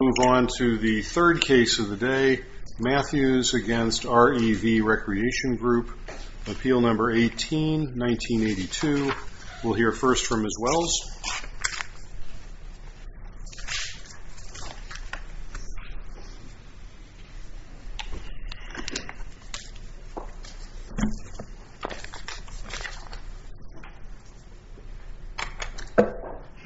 We'll move on to the third case of the day, Mathews v. REV Recreation Group, Appeal No. 18, 1982. We'll hear first from Ms. Wells.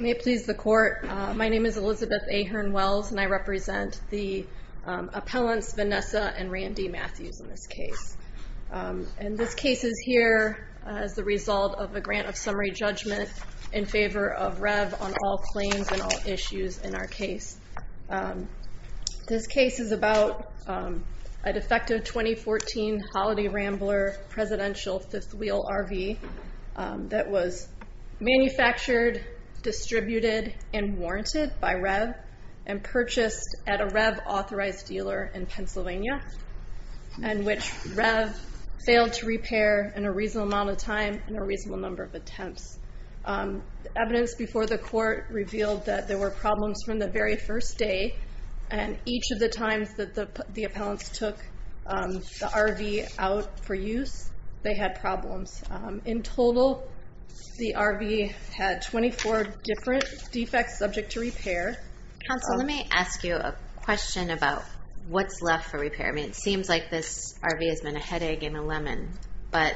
May it please the Court, my name is Elizabeth Ahern Wells and I represent the appellants Vanessa and Randy Mathews in this case. And this case is here as the result of a grant of summary judgment in favor of REV on all claims and all issues in our case. This case is about a defective 2014 Holiday Rambler presidential fifth wheel RV that was manufactured, distributed and warranted by REV and purchased at a REV authorized dealer in Pennsylvania and which REV failed to repair in a reasonable amount of time and a reasonable number of attempts. Evidence before the court revealed that there were problems from the very first day and each of the times that the appellants took the RV out for use, they had problems. In total, the RV had 24 different defects subject to repair. Counsel, let me ask you a question about what's left for repair. I mean, it seems like this RV has been a headache and a lemon, but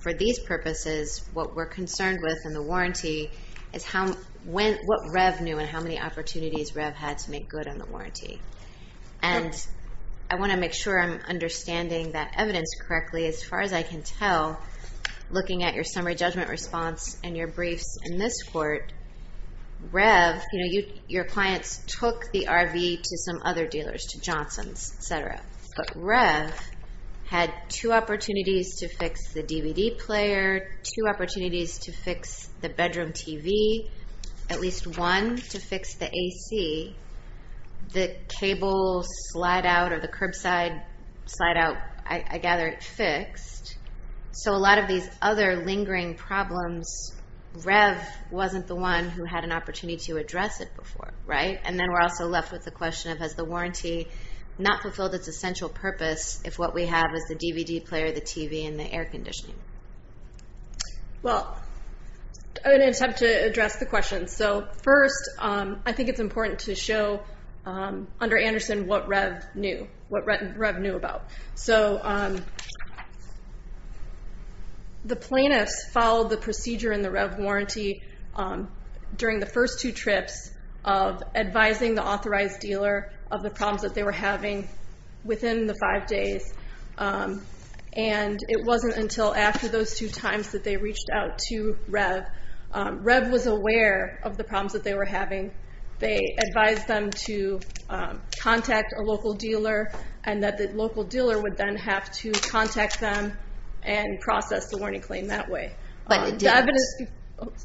for these purposes, what we're concerned with in the warranty is what REV knew and how many opportunities REV had to make good on the warranty. And I want to make sure I'm understanding that evidence correctly. As far as I can tell, looking at your clients took the RV to some other dealers, to Johnson's, et cetera. But REV had two opportunities to fix the DVD player, two opportunities to fix the bedroom TV, at least one to fix the AC. The cable slide out or the curbside slide out, I gather it fixed. So a lot of these other lingering problems, REV wasn't the one who had an opportunity to address it before, right? And then we're also left with the question of, has the warranty not fulfilled its essential purpose if what we have is the DVD player, the TV, and the air conditioning? Well, I'm going to attempt to address the question. So first, I think it's important to show under Anderson what REV knew, what REV knew about. So the plaintiffs followed the procedure in the REV warranty during the first two trips of advising the authorized dealer of the problems that they were having within the five days. And it wasn't until after those two times that they reached out to REV. REV was aware of the problems that they were having. They advised them to contact a local dealer and that the local dealer would then have to contact them and process the warning claim that way. But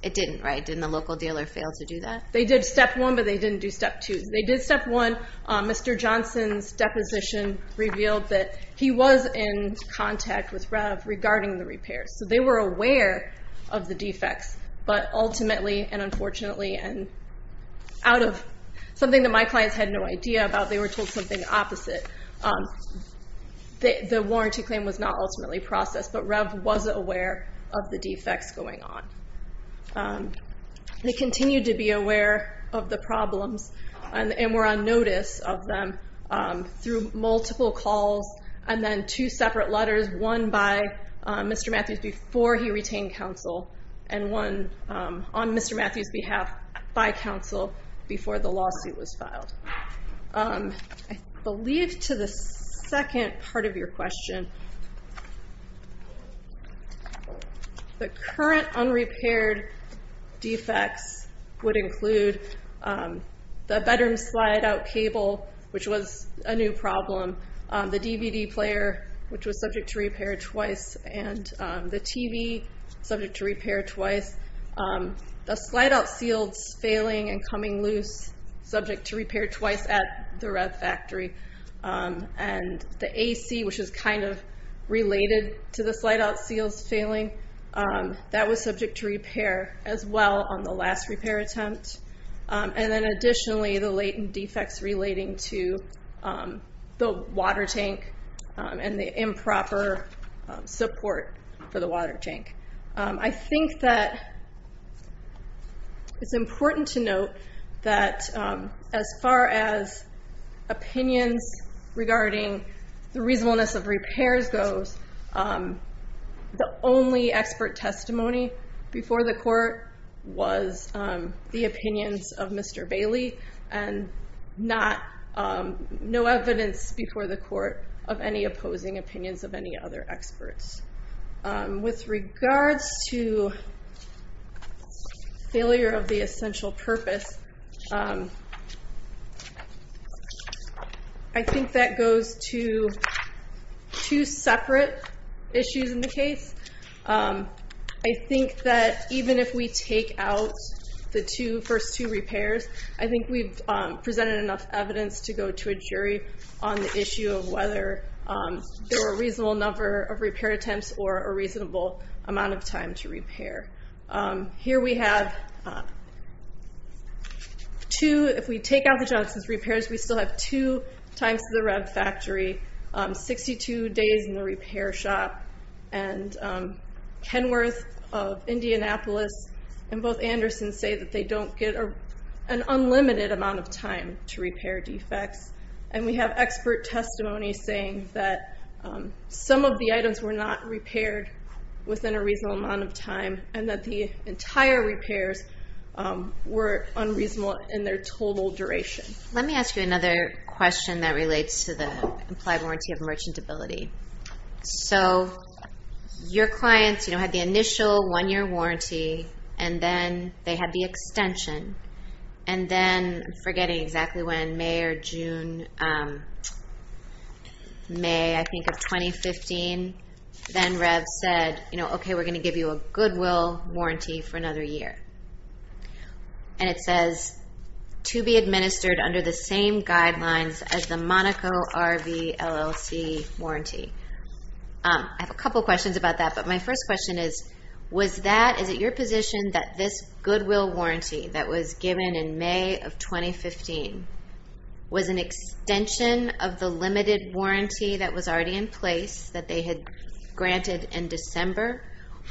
it didn't, right? Didn't the local dealer fail to do that? They did step one, but they didn't do step two. They did step one. Mr. Johnson's deposition revealed that he was in contact with REV regarding the repairs. So they were aware of the defects, but ultimately, and unfortunately, and out of something that my clients had no idea about, they were told something opposite. The warranty claim was not ultimately processed, but REV was aware of the defects going on. They continued to be aware of the problems and were on notice of them through multiple calls and then two separate letters, one by Mr. Matthews before he retained counsel and one on Mr. Matthews' behalf by counsel before the lawsuit was filed. I believe to the second part of your question, the current unrepaired defects would include the bedroom slide-out cable, which was a new problem, the DVD player, which was subject to repair twice, and the TV, subject to repair twice. The slide-out seals failing and coming loose, subject to repair twice at the REV factory. And the AC, which is kind of related to the slide-out seals failing, that was subject to repair as well on the last repair attempt. And then additionally, the latent defects relating to the water tank and the improper support for the water tank. I think that it's important to note that as far as opinions regarding the reasonableness of repairs goes, the only expert testimony before the court was the opinions of Mr. Bailey and no evidence before the court of any opposing opinions of any other experts. With regards to failure of the essential purpose, I think that goes to two separate issues in the case. I think that even if we take out the two, the first two repairs, I think we've presented enough evidence to go to a jury on the issue of whether there were a reasonable number of repair attempts or a reasonable amount of time to repair. Here we have two, if we take out the Johnson's repairs, we still have two times to the REV factory, 62 days in the repair shop. And Kenworth of Indianapolis and both Andersons say that they don't get an unlimited amount of time to repair defects. And we have expert testimony saying that some of the items were not repaired within a reasonable amount of time and that the entire repairs were unreasonable in their total duration. Let me ask you another question that relates to the implied warranty of merchantability. So your clients had the initial one-year warranty and then they had the extension. And then, I'm forgetting exactly when, May or June, May I think of 2015, then REV said, okay, we're going to give you a goodwill warranty for another year. And it says, to be administered under the same guidelines as the Monaco RV LLC warranty. I have a couple of questions about that, but my first question is, was that, is it your position that this goodwill warranty that was given in May of 2015 was an extension of the limited warranty that was already in place that they had granted in December,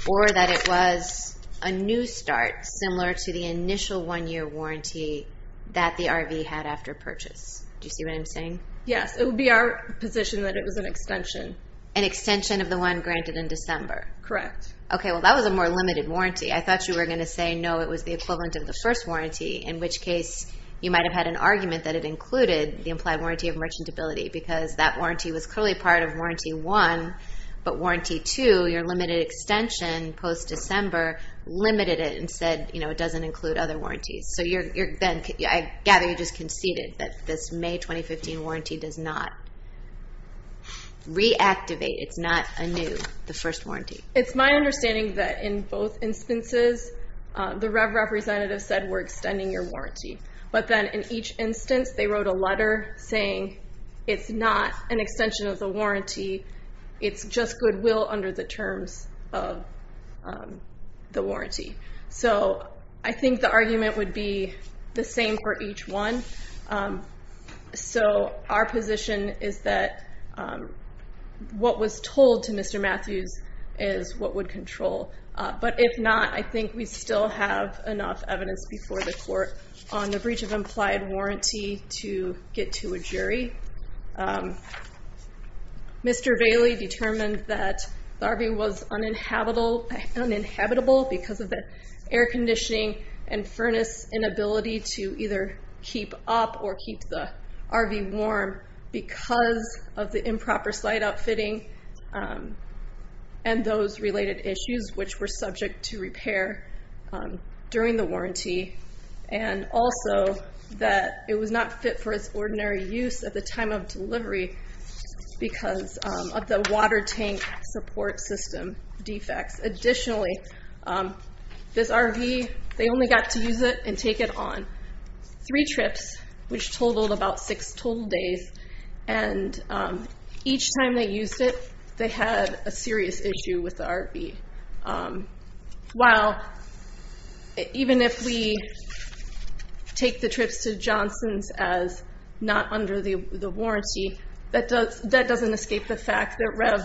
or that it was a new start similar to the initial one-year warranty that the RV had after purchase? Do you see what I'm saying? Yes, it would be our position that it was an extension. An extension of the one granted in December? Correct. Okay, well, that was a more limited warranty. I thought you were going to say, no, it was the equivalent of the first warranty, in which case you might've had an argument that it included the implied warranty of merchantability, because that warranty was clearly part of warranty one, but warranty two, your limited extension post-December, limited it and said it doesn't include other warranties. So I gather you just conceded that this May 2015 warranty does not reactivate, it's not a new, the first warranty. It's my understanding that in both instances, the REV representative said, we're extending your warranty. But then in each instance, they wrote a letter saying, it's not an extension of the warranty, it's just goodwill under the terms of the warranty. So I think the argument would be the same for each one. So our position is that what was told to Mr. Matthews is what would control. But if not, I think we still have enough evidence before the court on the breach of implied warranty to get to a jury. Mr. Bailey determined that the RV was uninhabitable because of the air conditioning and furnace inability to either keep up or keep the RV warm because of the improper slide outfitting and those related issues, which were subject to repair during the warranty. And also that it was not fit for its ordinary use at the time of delivery because of the water tank support system defects. Additionally, this RV, they only got to use it and take it on three trips, which totaled about six total days. And each time they used it, they had a serious issue with the RV. While even if we take the trips to Johnson's as not under the warranty, that doesn't escape the fact that REV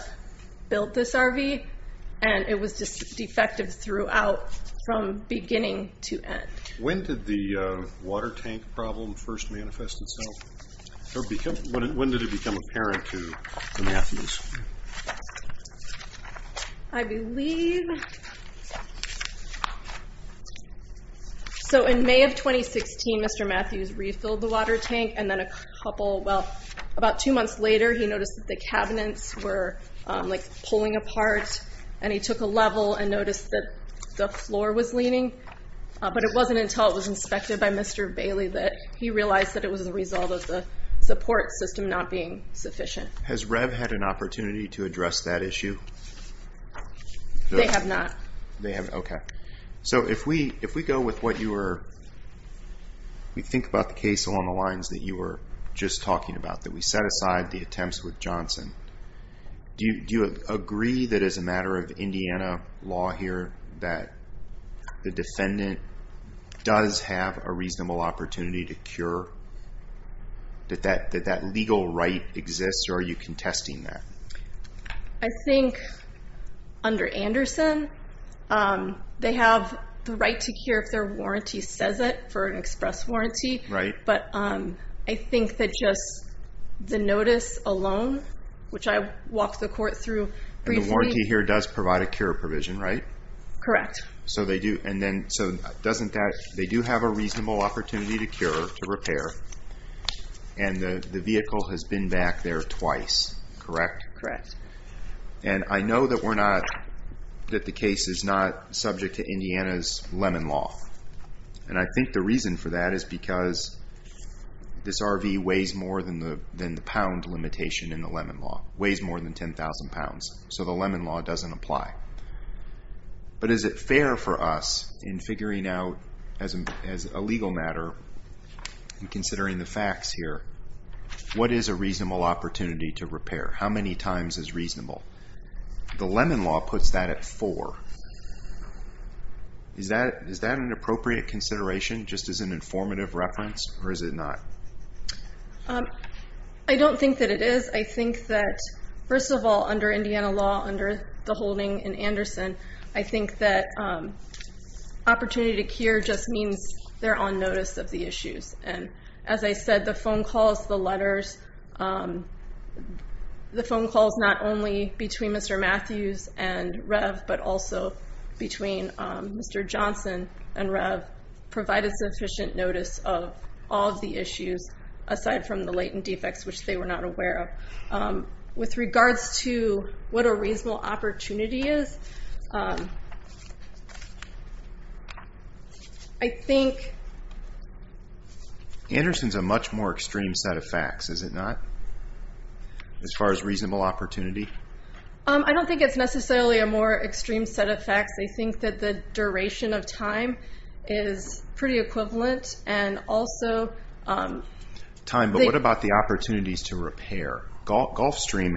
built this RV and it was just defective throughout from beginning to end. When did the water tank problem first manifest itself? When did it become apparent to the Matthews? I believe... So in May of 2016, Mr. Matthews refilled the water tank and then a couple, well, about two months later, he noticed that the cabinets were like pulling apart and he took a level and noticed that the floor was leaning. But it wasn't until it was inspected by Mr. Bailey that he realized that it was the result of the support system not being sufficient. Has REV had an opportunity to address that issue? They have not. They haven't. Okay. So if we go with what you were... We think about the case along the lines that you were just talking about, that we set aside the attempts with Johnson. Do you agree that as a matter of Indiana law here that the defendant does have a reasonable opportunity to cure, that that legal right exists or are you contesting that? I think under Anderson, they have the right to cure if their warranty says it for an express warranty. Right. But I think that just the notice alone, which I walked the court through briefly... The warranty here does provide a cure provision, right? Correct. So they do. And then so doesn't that... They do have a reasonable opportunity to cure, to repair, and the vehicle has been back there twice, correct? Correct. And I know that we're not, that the case is not subject to Indiana's Lemon Law. And I think the reason for that is because this RV weighs more than the pound limitation in the Lemon Law, weighs more than 10,000 pounds. So the Lemon Law doesn't apply. But is it fair for us in figuring out as a legal matter and considering the facts here, what is a reasonable opportunity to repair? How many times is reasonable? The Lemon Law puts that at four. Is that an appropriate consideration just as an informative reference or is it not? I don't think that it is. I think that, first of all, under Indiana law, under the holding in Anderson, I think that opportunity to cure just means they're on notice of the issues. And as I said, the phone calls, the letters, the phone calls not only between Mr. Matthews and Rev, but also between Mr. Johnson and Rev provided sufficient notice of all of the issues aside from the latent defects, which they were not aware of. With regards to what a reasonable opportunity is, I think... Anderson's a much more extreme set of facts, is it not, as far as reasonable opportunity? I don't think it's necessarily a more extreme set of facts. I think that the duration of time is pretty equivalent and also... Time, but what about the opportunities to repair? Gulfstream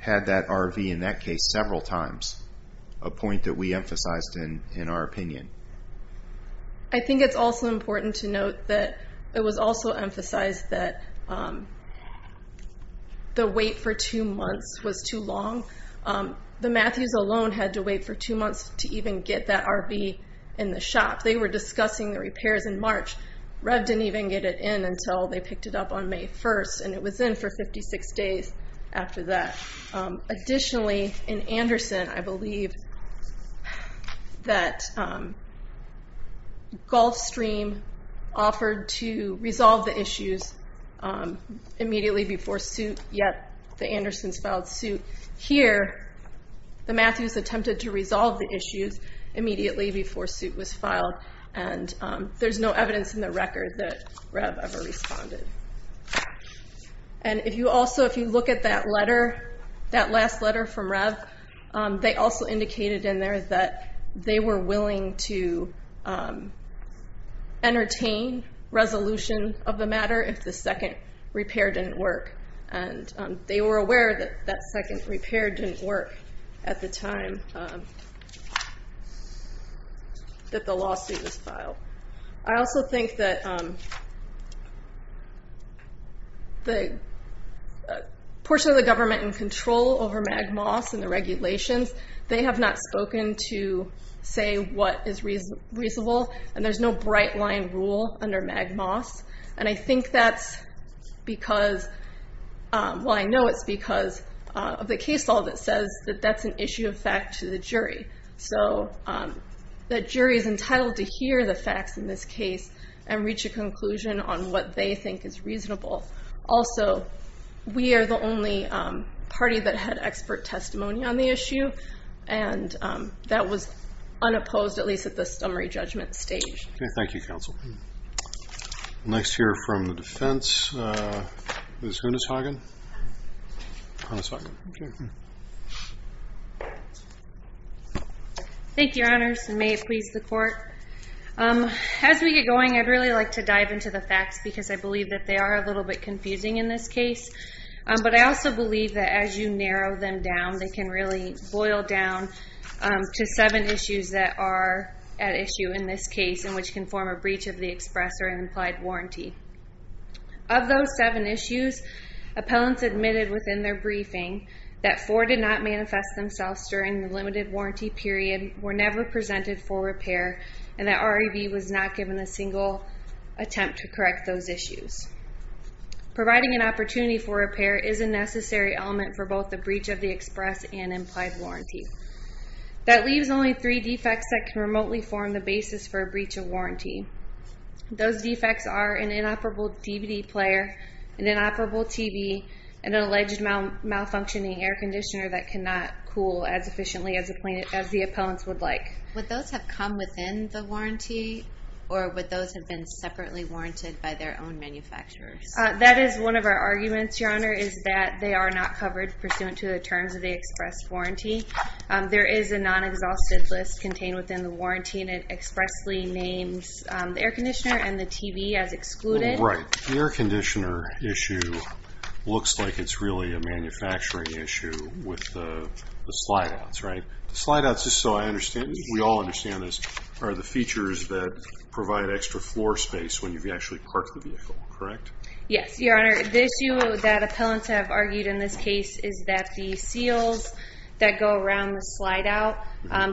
had that RV in that case several times. A point that we emphasized in our opinion. I think it's also important to note that it was also emphasized that the wait for two months was too long. The Matthews alone had to wait for two months to even get that RV in the shop. They were discussing the repairs in March. Rev didn't even get it in until they picked it up on May 1st and it was in for 56 days after that. Additionally, in Anderson, I believe that Gulfstream offered to resolve the issues immediately before suit, yet the Andersons filed suit. Here, the Matthews attempted to resolve the issues immediately before suit was filed and there's no evidence in the record that Rev ever responded. If you look at that letter, that last letter from Rev, they also indicated in there that they were willing to entertain resolution of the matter if the second repair didn't work. They were aware that that second repair didn't work at the time that the lawsuit was filed. I also think that the portion of the government in control over MagMoss and the regulations, they have not spoken to say what is reasonable and there's no bright line rule under MagMoss. I think that's because, well I know it's because of the case law that says that that's an issue of fact to the jury. The jury is entitled to hear the facts in this case and reach a conclusion on what they think is reasonable. Also, we are the only party that had expert testimony on the issue and that was unopposed at least at the summary judgment stage. Okay, thank you counsel. We'll next hear from the defense, Ms. Huneshagen. Thank you, your honors and may it please the court. As we get going, I'd really like to dive into the facts because I believe that they are a little bit confusing in this case, but I also believe that as you narrow them down, they can really boil down to seven issues that are at issue in this case and which can form a breach of the express or an implied warranty. Of those seven issues, appellants admitted within their briefing that four did not manifest themselves during the limited warranty period, were never presented for repair, and that REV was not given a single attempt to correct those issues. Providing an opportunity for repair is a necessary element for both the breach of the express and implied warranty. That leaves only three defects that can remotely form the basis for a breach of warranty. Those defects are an inoperable DVD player, an inoperable TV, and an alleged malfunctioning air conditioner that cannot cool as efficiently as the appellants would like. Would those have come within the warranty or would those have been separately warranted by their own manufacturers? That is one of our arguments, your honor, is that they are not covered pursuant to the terms of the express warranty. There is a non-exhausted list contained within the warranty and it expressly names the air conditioner and the TV as excluded. Right. The air conditioner issue looks like it's really a manufacturing issue with the slide outs, right? The slide outs, just so I understand, we all understand this, are the features that provide extra floor space when you've actually parked the vehicle, correct? Yes, your honor. The issue that appellants have argued in this case is that the seals that go around the slide out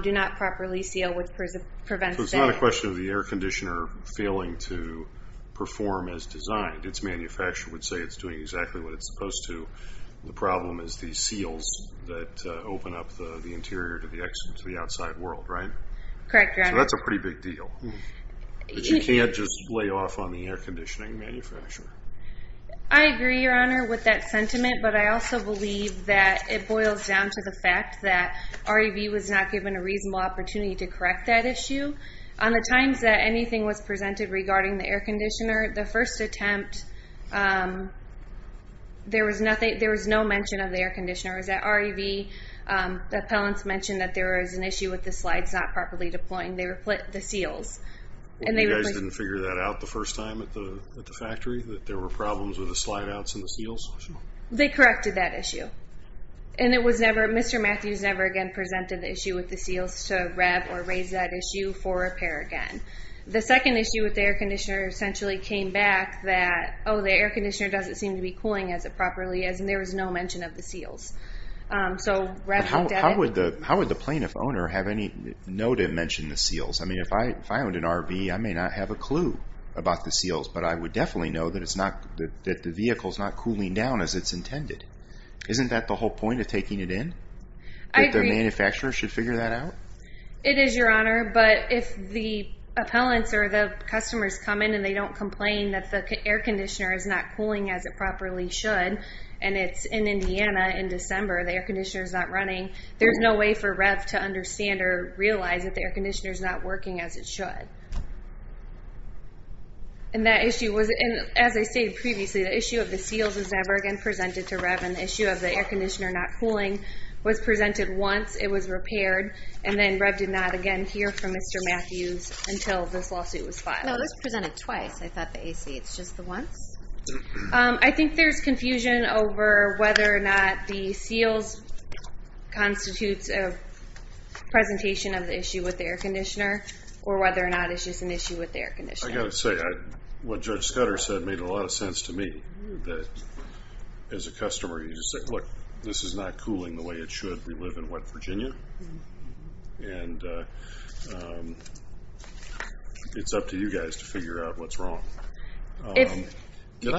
do not properly seal. So it's not a question of the air conditioner failing to perform as designed. Its manufacturer would say it's doing exactly what it's supposed to. The problem is the seals that open up the interior to the exit to the outside world, right? Correct, your honor. So that's a pretty big deal. You can't just lay off on the air conditioning manufacturer. I agree, your honor, with that sentiment, but I also believe that it boils down to the fact that REV was not given a reasonable opportunity to correct that issue. On the times that anything was presented regarding the air conditioner, the first attempt, there was nothing, there was no mention of the air conditioner. It was at REV, the appellants mentioned that there was an issue with the slides not properly deploying. They replaced the seals. You guys didn't figure that out the first time at the factory, that there were problems with the slide outs and the seals? They corrected that issue. And it was never, Mr. Matthews never again presented the issue with the seals to REV or raise that issue for repair again. The second issue with the air conditioner essentially came back that, oh the air conditioner doesn't seem to be cooling as it properly is, and there was no mention of the seals. So REV... How would the plaintiff owner have any know to mention the seals? I mean but I would definitely know that it's not, that the vehicle is not cooling down as it's intended. Isn't that the whole point of taking it in? I agree. That the manufacturer should figure that out? It is your honor, but if the appellants or the customers come in and they don't complain that the air conditioner is not cooling as it properly should, and it's in Indiana in December, the air conditioner is not running, there's no way for REV to understand or realize that the air conditioner is not working as it should. And that issue was, and as I stated previously, the issue of the seals was never again presented to REV, and the issue of the air conditioner not cooling was presented once, it was repaired, and then REV did not again hear from Mr. Matthews until this lawsuit was filed. No, this was presented twice. I thought the AC, it's just the once? I think there's confusion over whether or not the seals constitutes a presentation of the issue with the air conditioner, or whether or not it's just an issue with the air conditioner. I gotta say, what Judge Scudder said made a lot of sense to me, that as a customer, you just said, look, this is not cooling the way it should. We live in wet Virginia, and it's up to you guys to figure out what's wrong. Did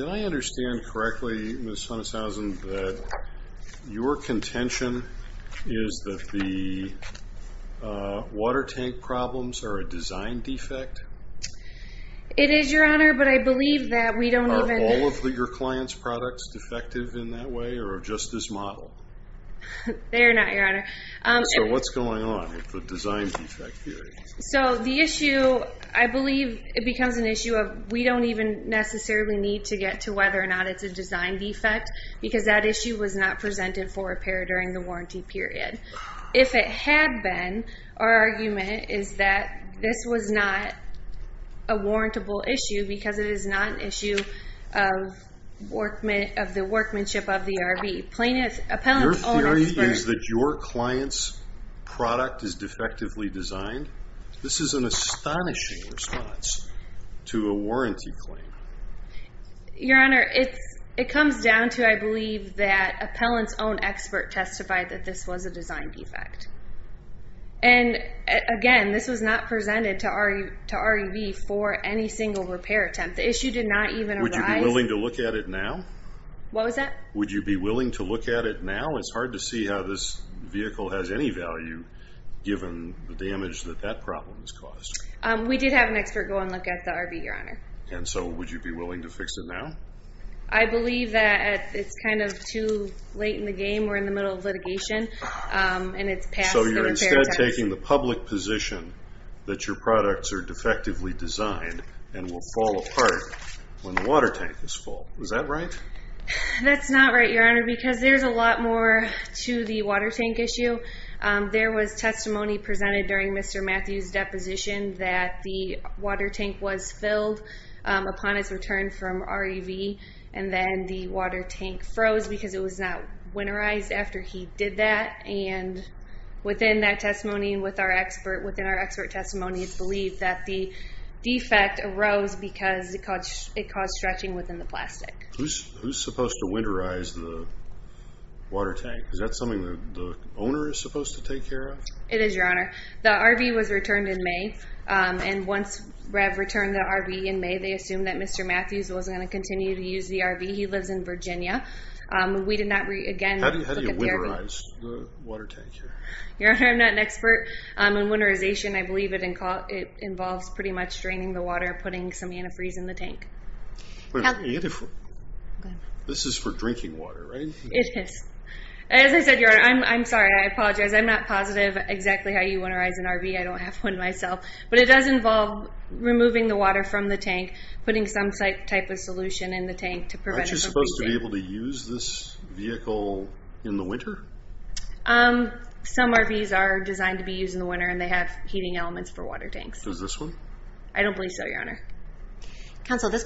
I understand correctly, Ms. Hunneshausen, that your contention is that the water tank problems are a design defect? It is, Your Honor, but I believe that we don't even... Are all of your clients' products defective in that way, or just this model? They're not, Your Honor. So what's going on with the design defect theory? So the issue, I believe, it becomes an issue of, we don't even necessarily need to get to whether or not it's a design defect, because that issue was not presented for repair during the warranty period. If it had been, our argument is that this was not a warrantable issue, because it is not an issue of the workmanship of the RV. Plaintiff, appellant... Your theory is that your client's product is defectively designed? This is an astonishing response to a warranty claim. Your Honor, it comes down to, I believe, that appellant's own expert testified that this was a design defect. And again, this was not presented to REV for any single repair attempt. The issue did not even arise... Would you be willing to look at it now? What was that? Would you be willing to look at it now? I believe that it's kind of too late in the game. We're in the middle of litigation, and it's past the repair test. So you're instead taking the public position that your products are defectively designed and will fall apart when the water tank is full. Is that right? That's not right, Your Honor, because there's a lot more to the water tank issue. There was testimony presented during Mr. Matthews' deposition that the water tank was filled upon its return from REV, and then the water tank froze because it was not winterized after he did that. And within that testimony, and within our expert testimony, it's believed that the supposed to winterize the water tank. Is that something that the owner is supposed to take care of? It is, Your Honor. The RV was returned in May, and once REV returned the RV in May, they assumed that Mr. Matthews was going to continue to use the RV. He lives in Virginia. We did not, again... How do you winterize the water tank here? Your Honor, I'm not an expert. In winterization, I believe it involves pretty much draining the water, putting some antifreeze in the tank. This is for drinking water, right? It is. As I said, Your Honor, I'm sorry. I apologize. I'm not positive exactly how you winterize an RV. I don't have one myself, but it does involve removing the water from the tank, putting some type of solution in the tank to prevent it from freezing. Aren't you supposed to be able to use this vehicle in the winter? Some RVs are designed to be used in the winter, and they have heating elements for water tanks. Does this one? I don't believe so, Your Honor. Counsel, this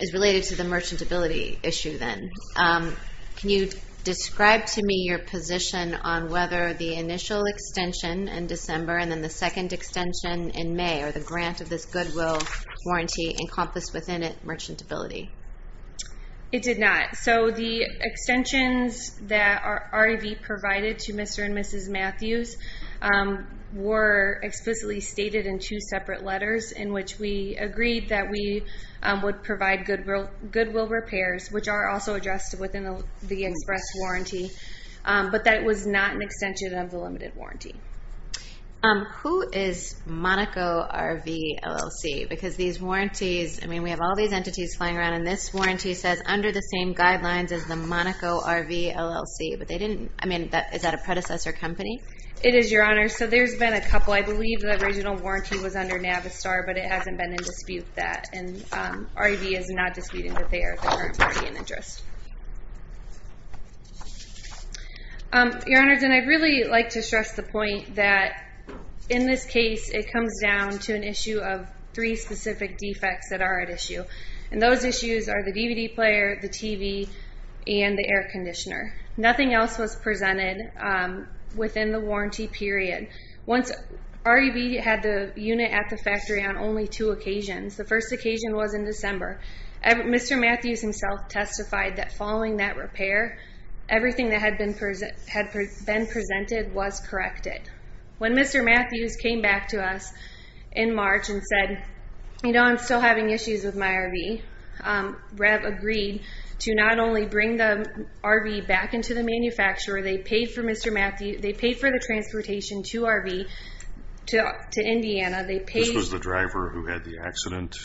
is related to the merchantability issue then. Can you describe to me your position on whether the initial extension in December and then the second extension in May, or the grant of this goodwill warranty encompassed within it merchantability? It did not. The extensions that our RV provided to Mr. and Mrs. Matthews were explicitly stated in two separate letters in which we agreed that we would provide goodwill repairs, which are also addressed within the express warranty, but that was not an extension of the limited warranty. Who is Monaco RV LLC? Because these warranties, I mean, we have all these entities flying around, and this warranty says under the same guidelines as the Monaco RV LLC, but they didn't... I mean, is that a predecessor company? It is, Your Honor. So there's been a couple. I believe the original warranty was under Navistar, but it hasn't been in dispute with that, and RV is not disputing that they are the current party in interest. Your Honors, and I'd really like to stress the point that in this case, it comes down to an issue of three specific defects that are at issue, and those issues are the DVD player, the TV, and the air conditioner. Nothing else was presented within the warranty period. Once our RV had the unit at the factory on only two occasions, the first occasion was in December, Mr. Matthews himself testified that following that repair, everything that had been presented was corrected. When Mr. Matthews came back to us in March and said, you know, I'm still having issues with my RV, REV agreed to not only bring the RV back into the manufacturer, they paid for Mr. Matthews, they paid for the transportation to RV, to Indiana, they paid... This was the driver who had the accident?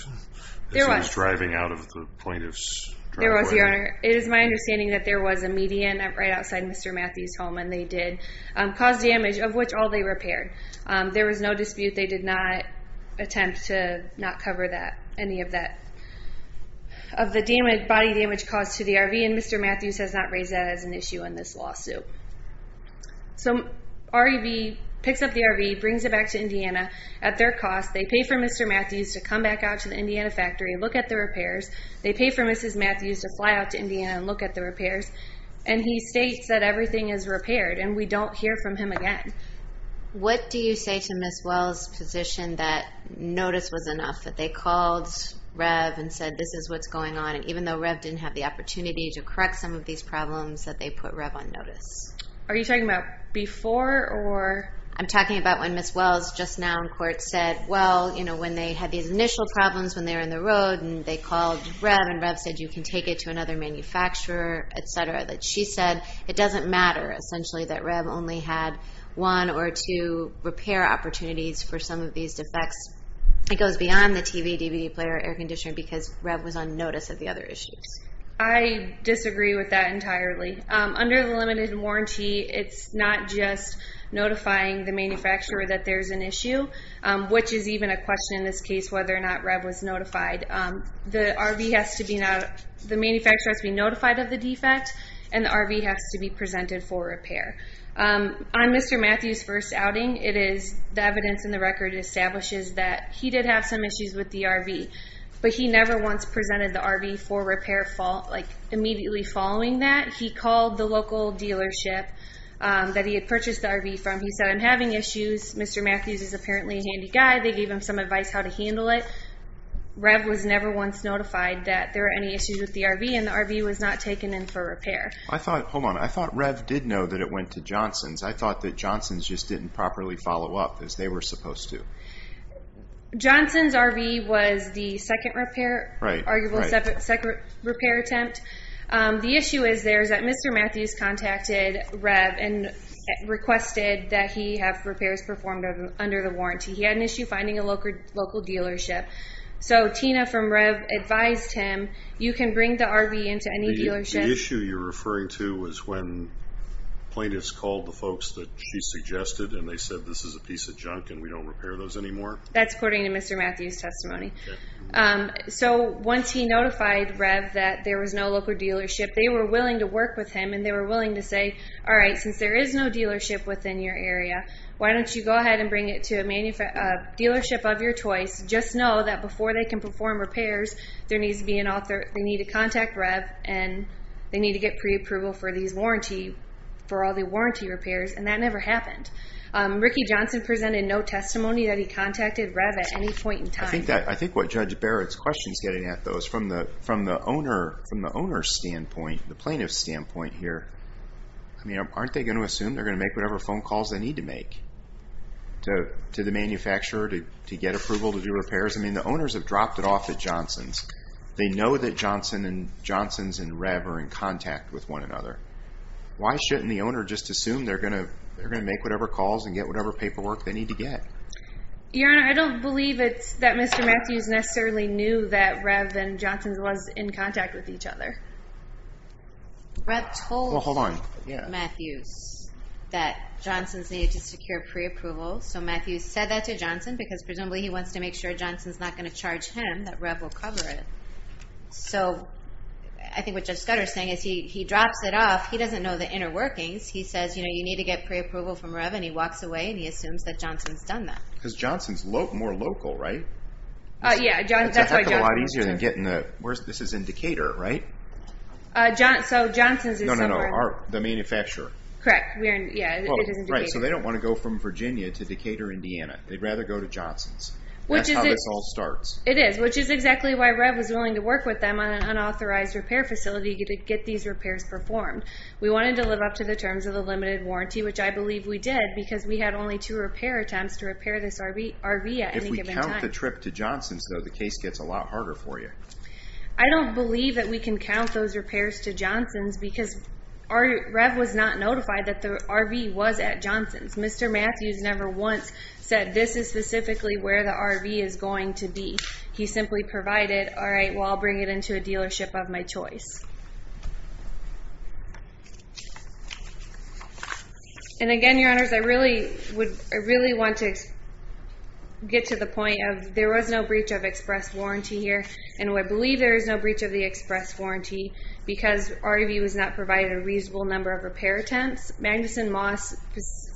There was. He was driving out of the plaintiff's driveway? There was, Your Honor. It is my understanding that there was a median right outside Mr. Matthews' home, and they did cause damage, of which all they repaired. There was no dispute. They did not cover that, any of that, of the body damage caused to the RV, and Mr. Matthews has not raised that as an issue in this lawsuit. So REV picks up the RV, brings it back to Indiana. At their cost, they pay for Mr. Matthews to come back out to the Indiana factory and look at the repairs. They pay for Mrs. Matthews to fly out to Indiana and look at the repairs, and he states that everything is repaired, and we don't hear from him again. What do you say to Ms. Wells' position that notice was enough, that they called REV and said, this is what's going on, and even though REV didn't have the opportunity to correct some of these problems, that they put REV on notice? Are you talking about before or... I'm talking about when Ms. Wells just now in court said, well, when they had these initial problems when they were in the road, and they called REV, and REV said, you can take it to another manufacturer, et cetera, that she said, it doesn't matter, essentially, that REV only had one or two repair opportunities for some of these defects. It goes beyond the TV, DVD player, air conditioner, because REV was on notice of the other issues. I disagree with that entirely. Under the limited warranty, it's not just notifying the manufacturer that there's an issue, which is even a question in this case, whether or not REV was notified. The manufacturer has to be notified of the defect, and the RV has to be presented for repair. On Mr. Matthews' first outing, the evidence in the record establishes that he did have some issues with the RV, but he never once presented the RV for repair immediately following that. He called the local dealership that he had purchased the RV from. He said, I'm having issues. Mr. Matthews is apparently a handy guy. They gave him some advice how to handle it. REV was never once notified that there were any issues with the RV, and the RV was not taken in for repair. Hold on. I thought REV did know that it went to Johnson's. I thought that Johnson's just didn't properly follow up as they were supposed to. Johnson's RV was the second repair attempt. The issue is there is that Mr. Matthews contacted REV and requested that he have repairs performed under the warranty. He had an issue finding a local dealership. Tina from REV advised him, you can bring the RV into any dealership. The issue you're referring to was when plaintiffs called the folks that she suggested and they said, this is a piece of junk and we don't repair those anymore? That's according to Mr. Matthews' testimony. Once he notified REV that there was no local dealership, they were willing to work with him and they were willing to say, all right, since there is no dealership within your area, why don't you go ahead and bring it to a dealership of your choice? Just know that before they can perform repairs, they need to contact REV and they need to get pre-approval for all the warranty repairs. That never happened. Ricky Johnson presented no testimony that he contacted REV at any point in time. I think what Judge Barrett's question is getting at though is from the owner's standpoint, the plaintiff's standpoint here, aren't they going to assume they're going to make whatever calls they need to make to the manufacturer to get approval to do repairs? The owners have dropped it off at Johnson's. They know that Johnson and Johnson's and REV are in contact with one another. Why shouldn't the owner just assume they're going to make whatever calls and get whatever paperwork they need to get? Your Honor, I don't believe that Mr. Matthews necessarily knew that REV and Johnson's was in contact with each other. REV told Matthews that Johnson's needed to secure pre-approval. Matthews said that to Johnson because presumably he wants to make sure Johnson's not going to charge him, that REV will cover it. I think what Judge Scudder's saying is he drops it off. He doesn't know the inner workings. He says, you need to get pre-approval from REV and he walks away and he assumes that Johnson's done that. Because Johnson's more local, right? Yeah, that's why Johnson's too. Where's this? This is in Decatur, right? So Johnson's is somewhere... No, no, no. The manufacturer. Correct. Yeah, it is in Decatur. So they don't want to go from Virginia to Decatur, Indiana. They'd rather go to Johnson's. That's how this all starts. It is, which is exactly why REV was willing to work with them on an unauthorized repair facility to get these repairs performed. We wanted to live up to the terms of the limited warranty, which I believe we did because we had only two repair attempts to repair this RV at any given time. If we count the trip to Johnson's though, the case gets a lot harder for you. I don't believe that we can count those repairs to Johnson's because REV was not notified that the RV was at Johnson's. Mr. Matthews never once said this is specifically where the RV is going to be. He simply provided, all right, well I'll bring it into a dealership of my choice. And again, your honors, I really want to get to the point of there was no breach of express warranty here, and I believe there is no breach of the express warranty because REV was not provided a reasonable number of repair attempts. Magnuson Moss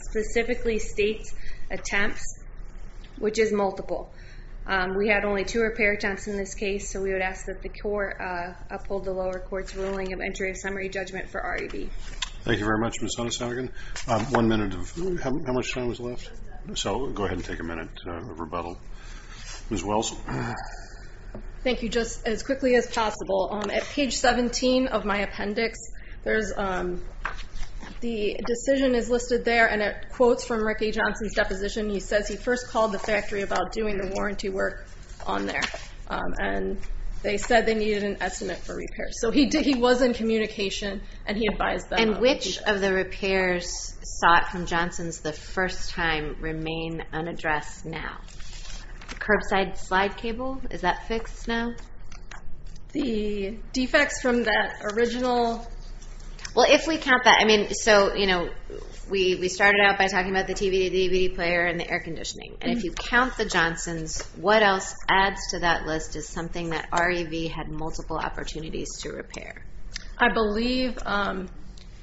specifically states attempts, which is multiple. We had only two repair attempts in this case, so we would ask that the court uphold the lower court's ruling of entry of summary judgment for REV. Thank you very much, Ms. Hunnis-Hannigan. One minute of, how much time is left? So go ahead and take a minute of rebuttal. Ms. Wells? Thank you. Just as quickly as possible, at page 17 of my appendix, the decision is listed there and it quotes from Ricky Johnson's deposition. He says he first called the factory about doing the warranty work on there, and they said they needed an estimate for repairs. So he was in communication, and he advised them- And which of the repairs sought from Johnson's the first time remain unaddressed now? Curbside slide cable, is that fixed now? The defects from that original- Well, if we count that, I mean, so we started out by talking about the TV, the DVD player, and the air conditioning. And if you count the Johnson's, what else adds to that list is something that REV had multiple opportunities to repair? I believe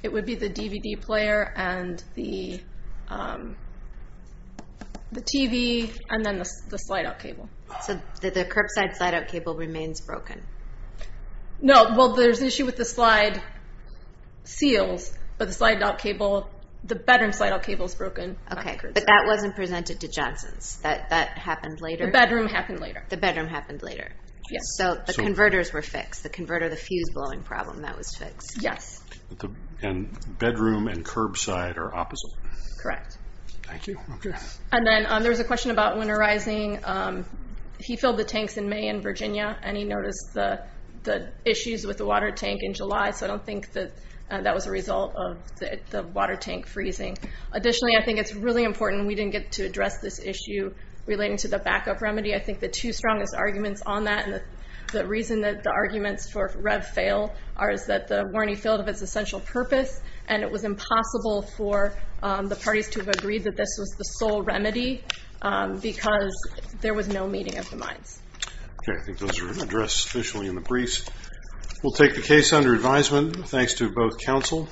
it would be the DVD player and the TV, and then the slide-out cable. So the curbside slide-out cable remains broken? No. Well, there's an issue with the slide seals, but the bedroom slide-out cable is broken. Okay. But that wasn't presented to Johnson's? That happened later? The bedroom happened later. The bedroom happened later. Yes. So the converters were fixed. The converter, the fuse blowing problem, that was fixed. Yes. And bedroom and curbside are opposite? Correct. Thank you. Okay. And then there was a question about winterizing. He filled the tanks in May in Virginia, and he noticed the issues with the water tank in July. So I don't think that that was a result of the water tank freezing. Additionally, I think it's really this issue relating to the backup remedy. I think the two strongest arguments on that, and the reason that the arguments for REV fail are that the warning failed of its essential purpose, and it was impossible for the parties to have agreed that this was the sole remedy because there was no meeting of the minds. Okay. I think those are addressed officially in the briefs. We'll take the case under advisement. Thanks to both counsel.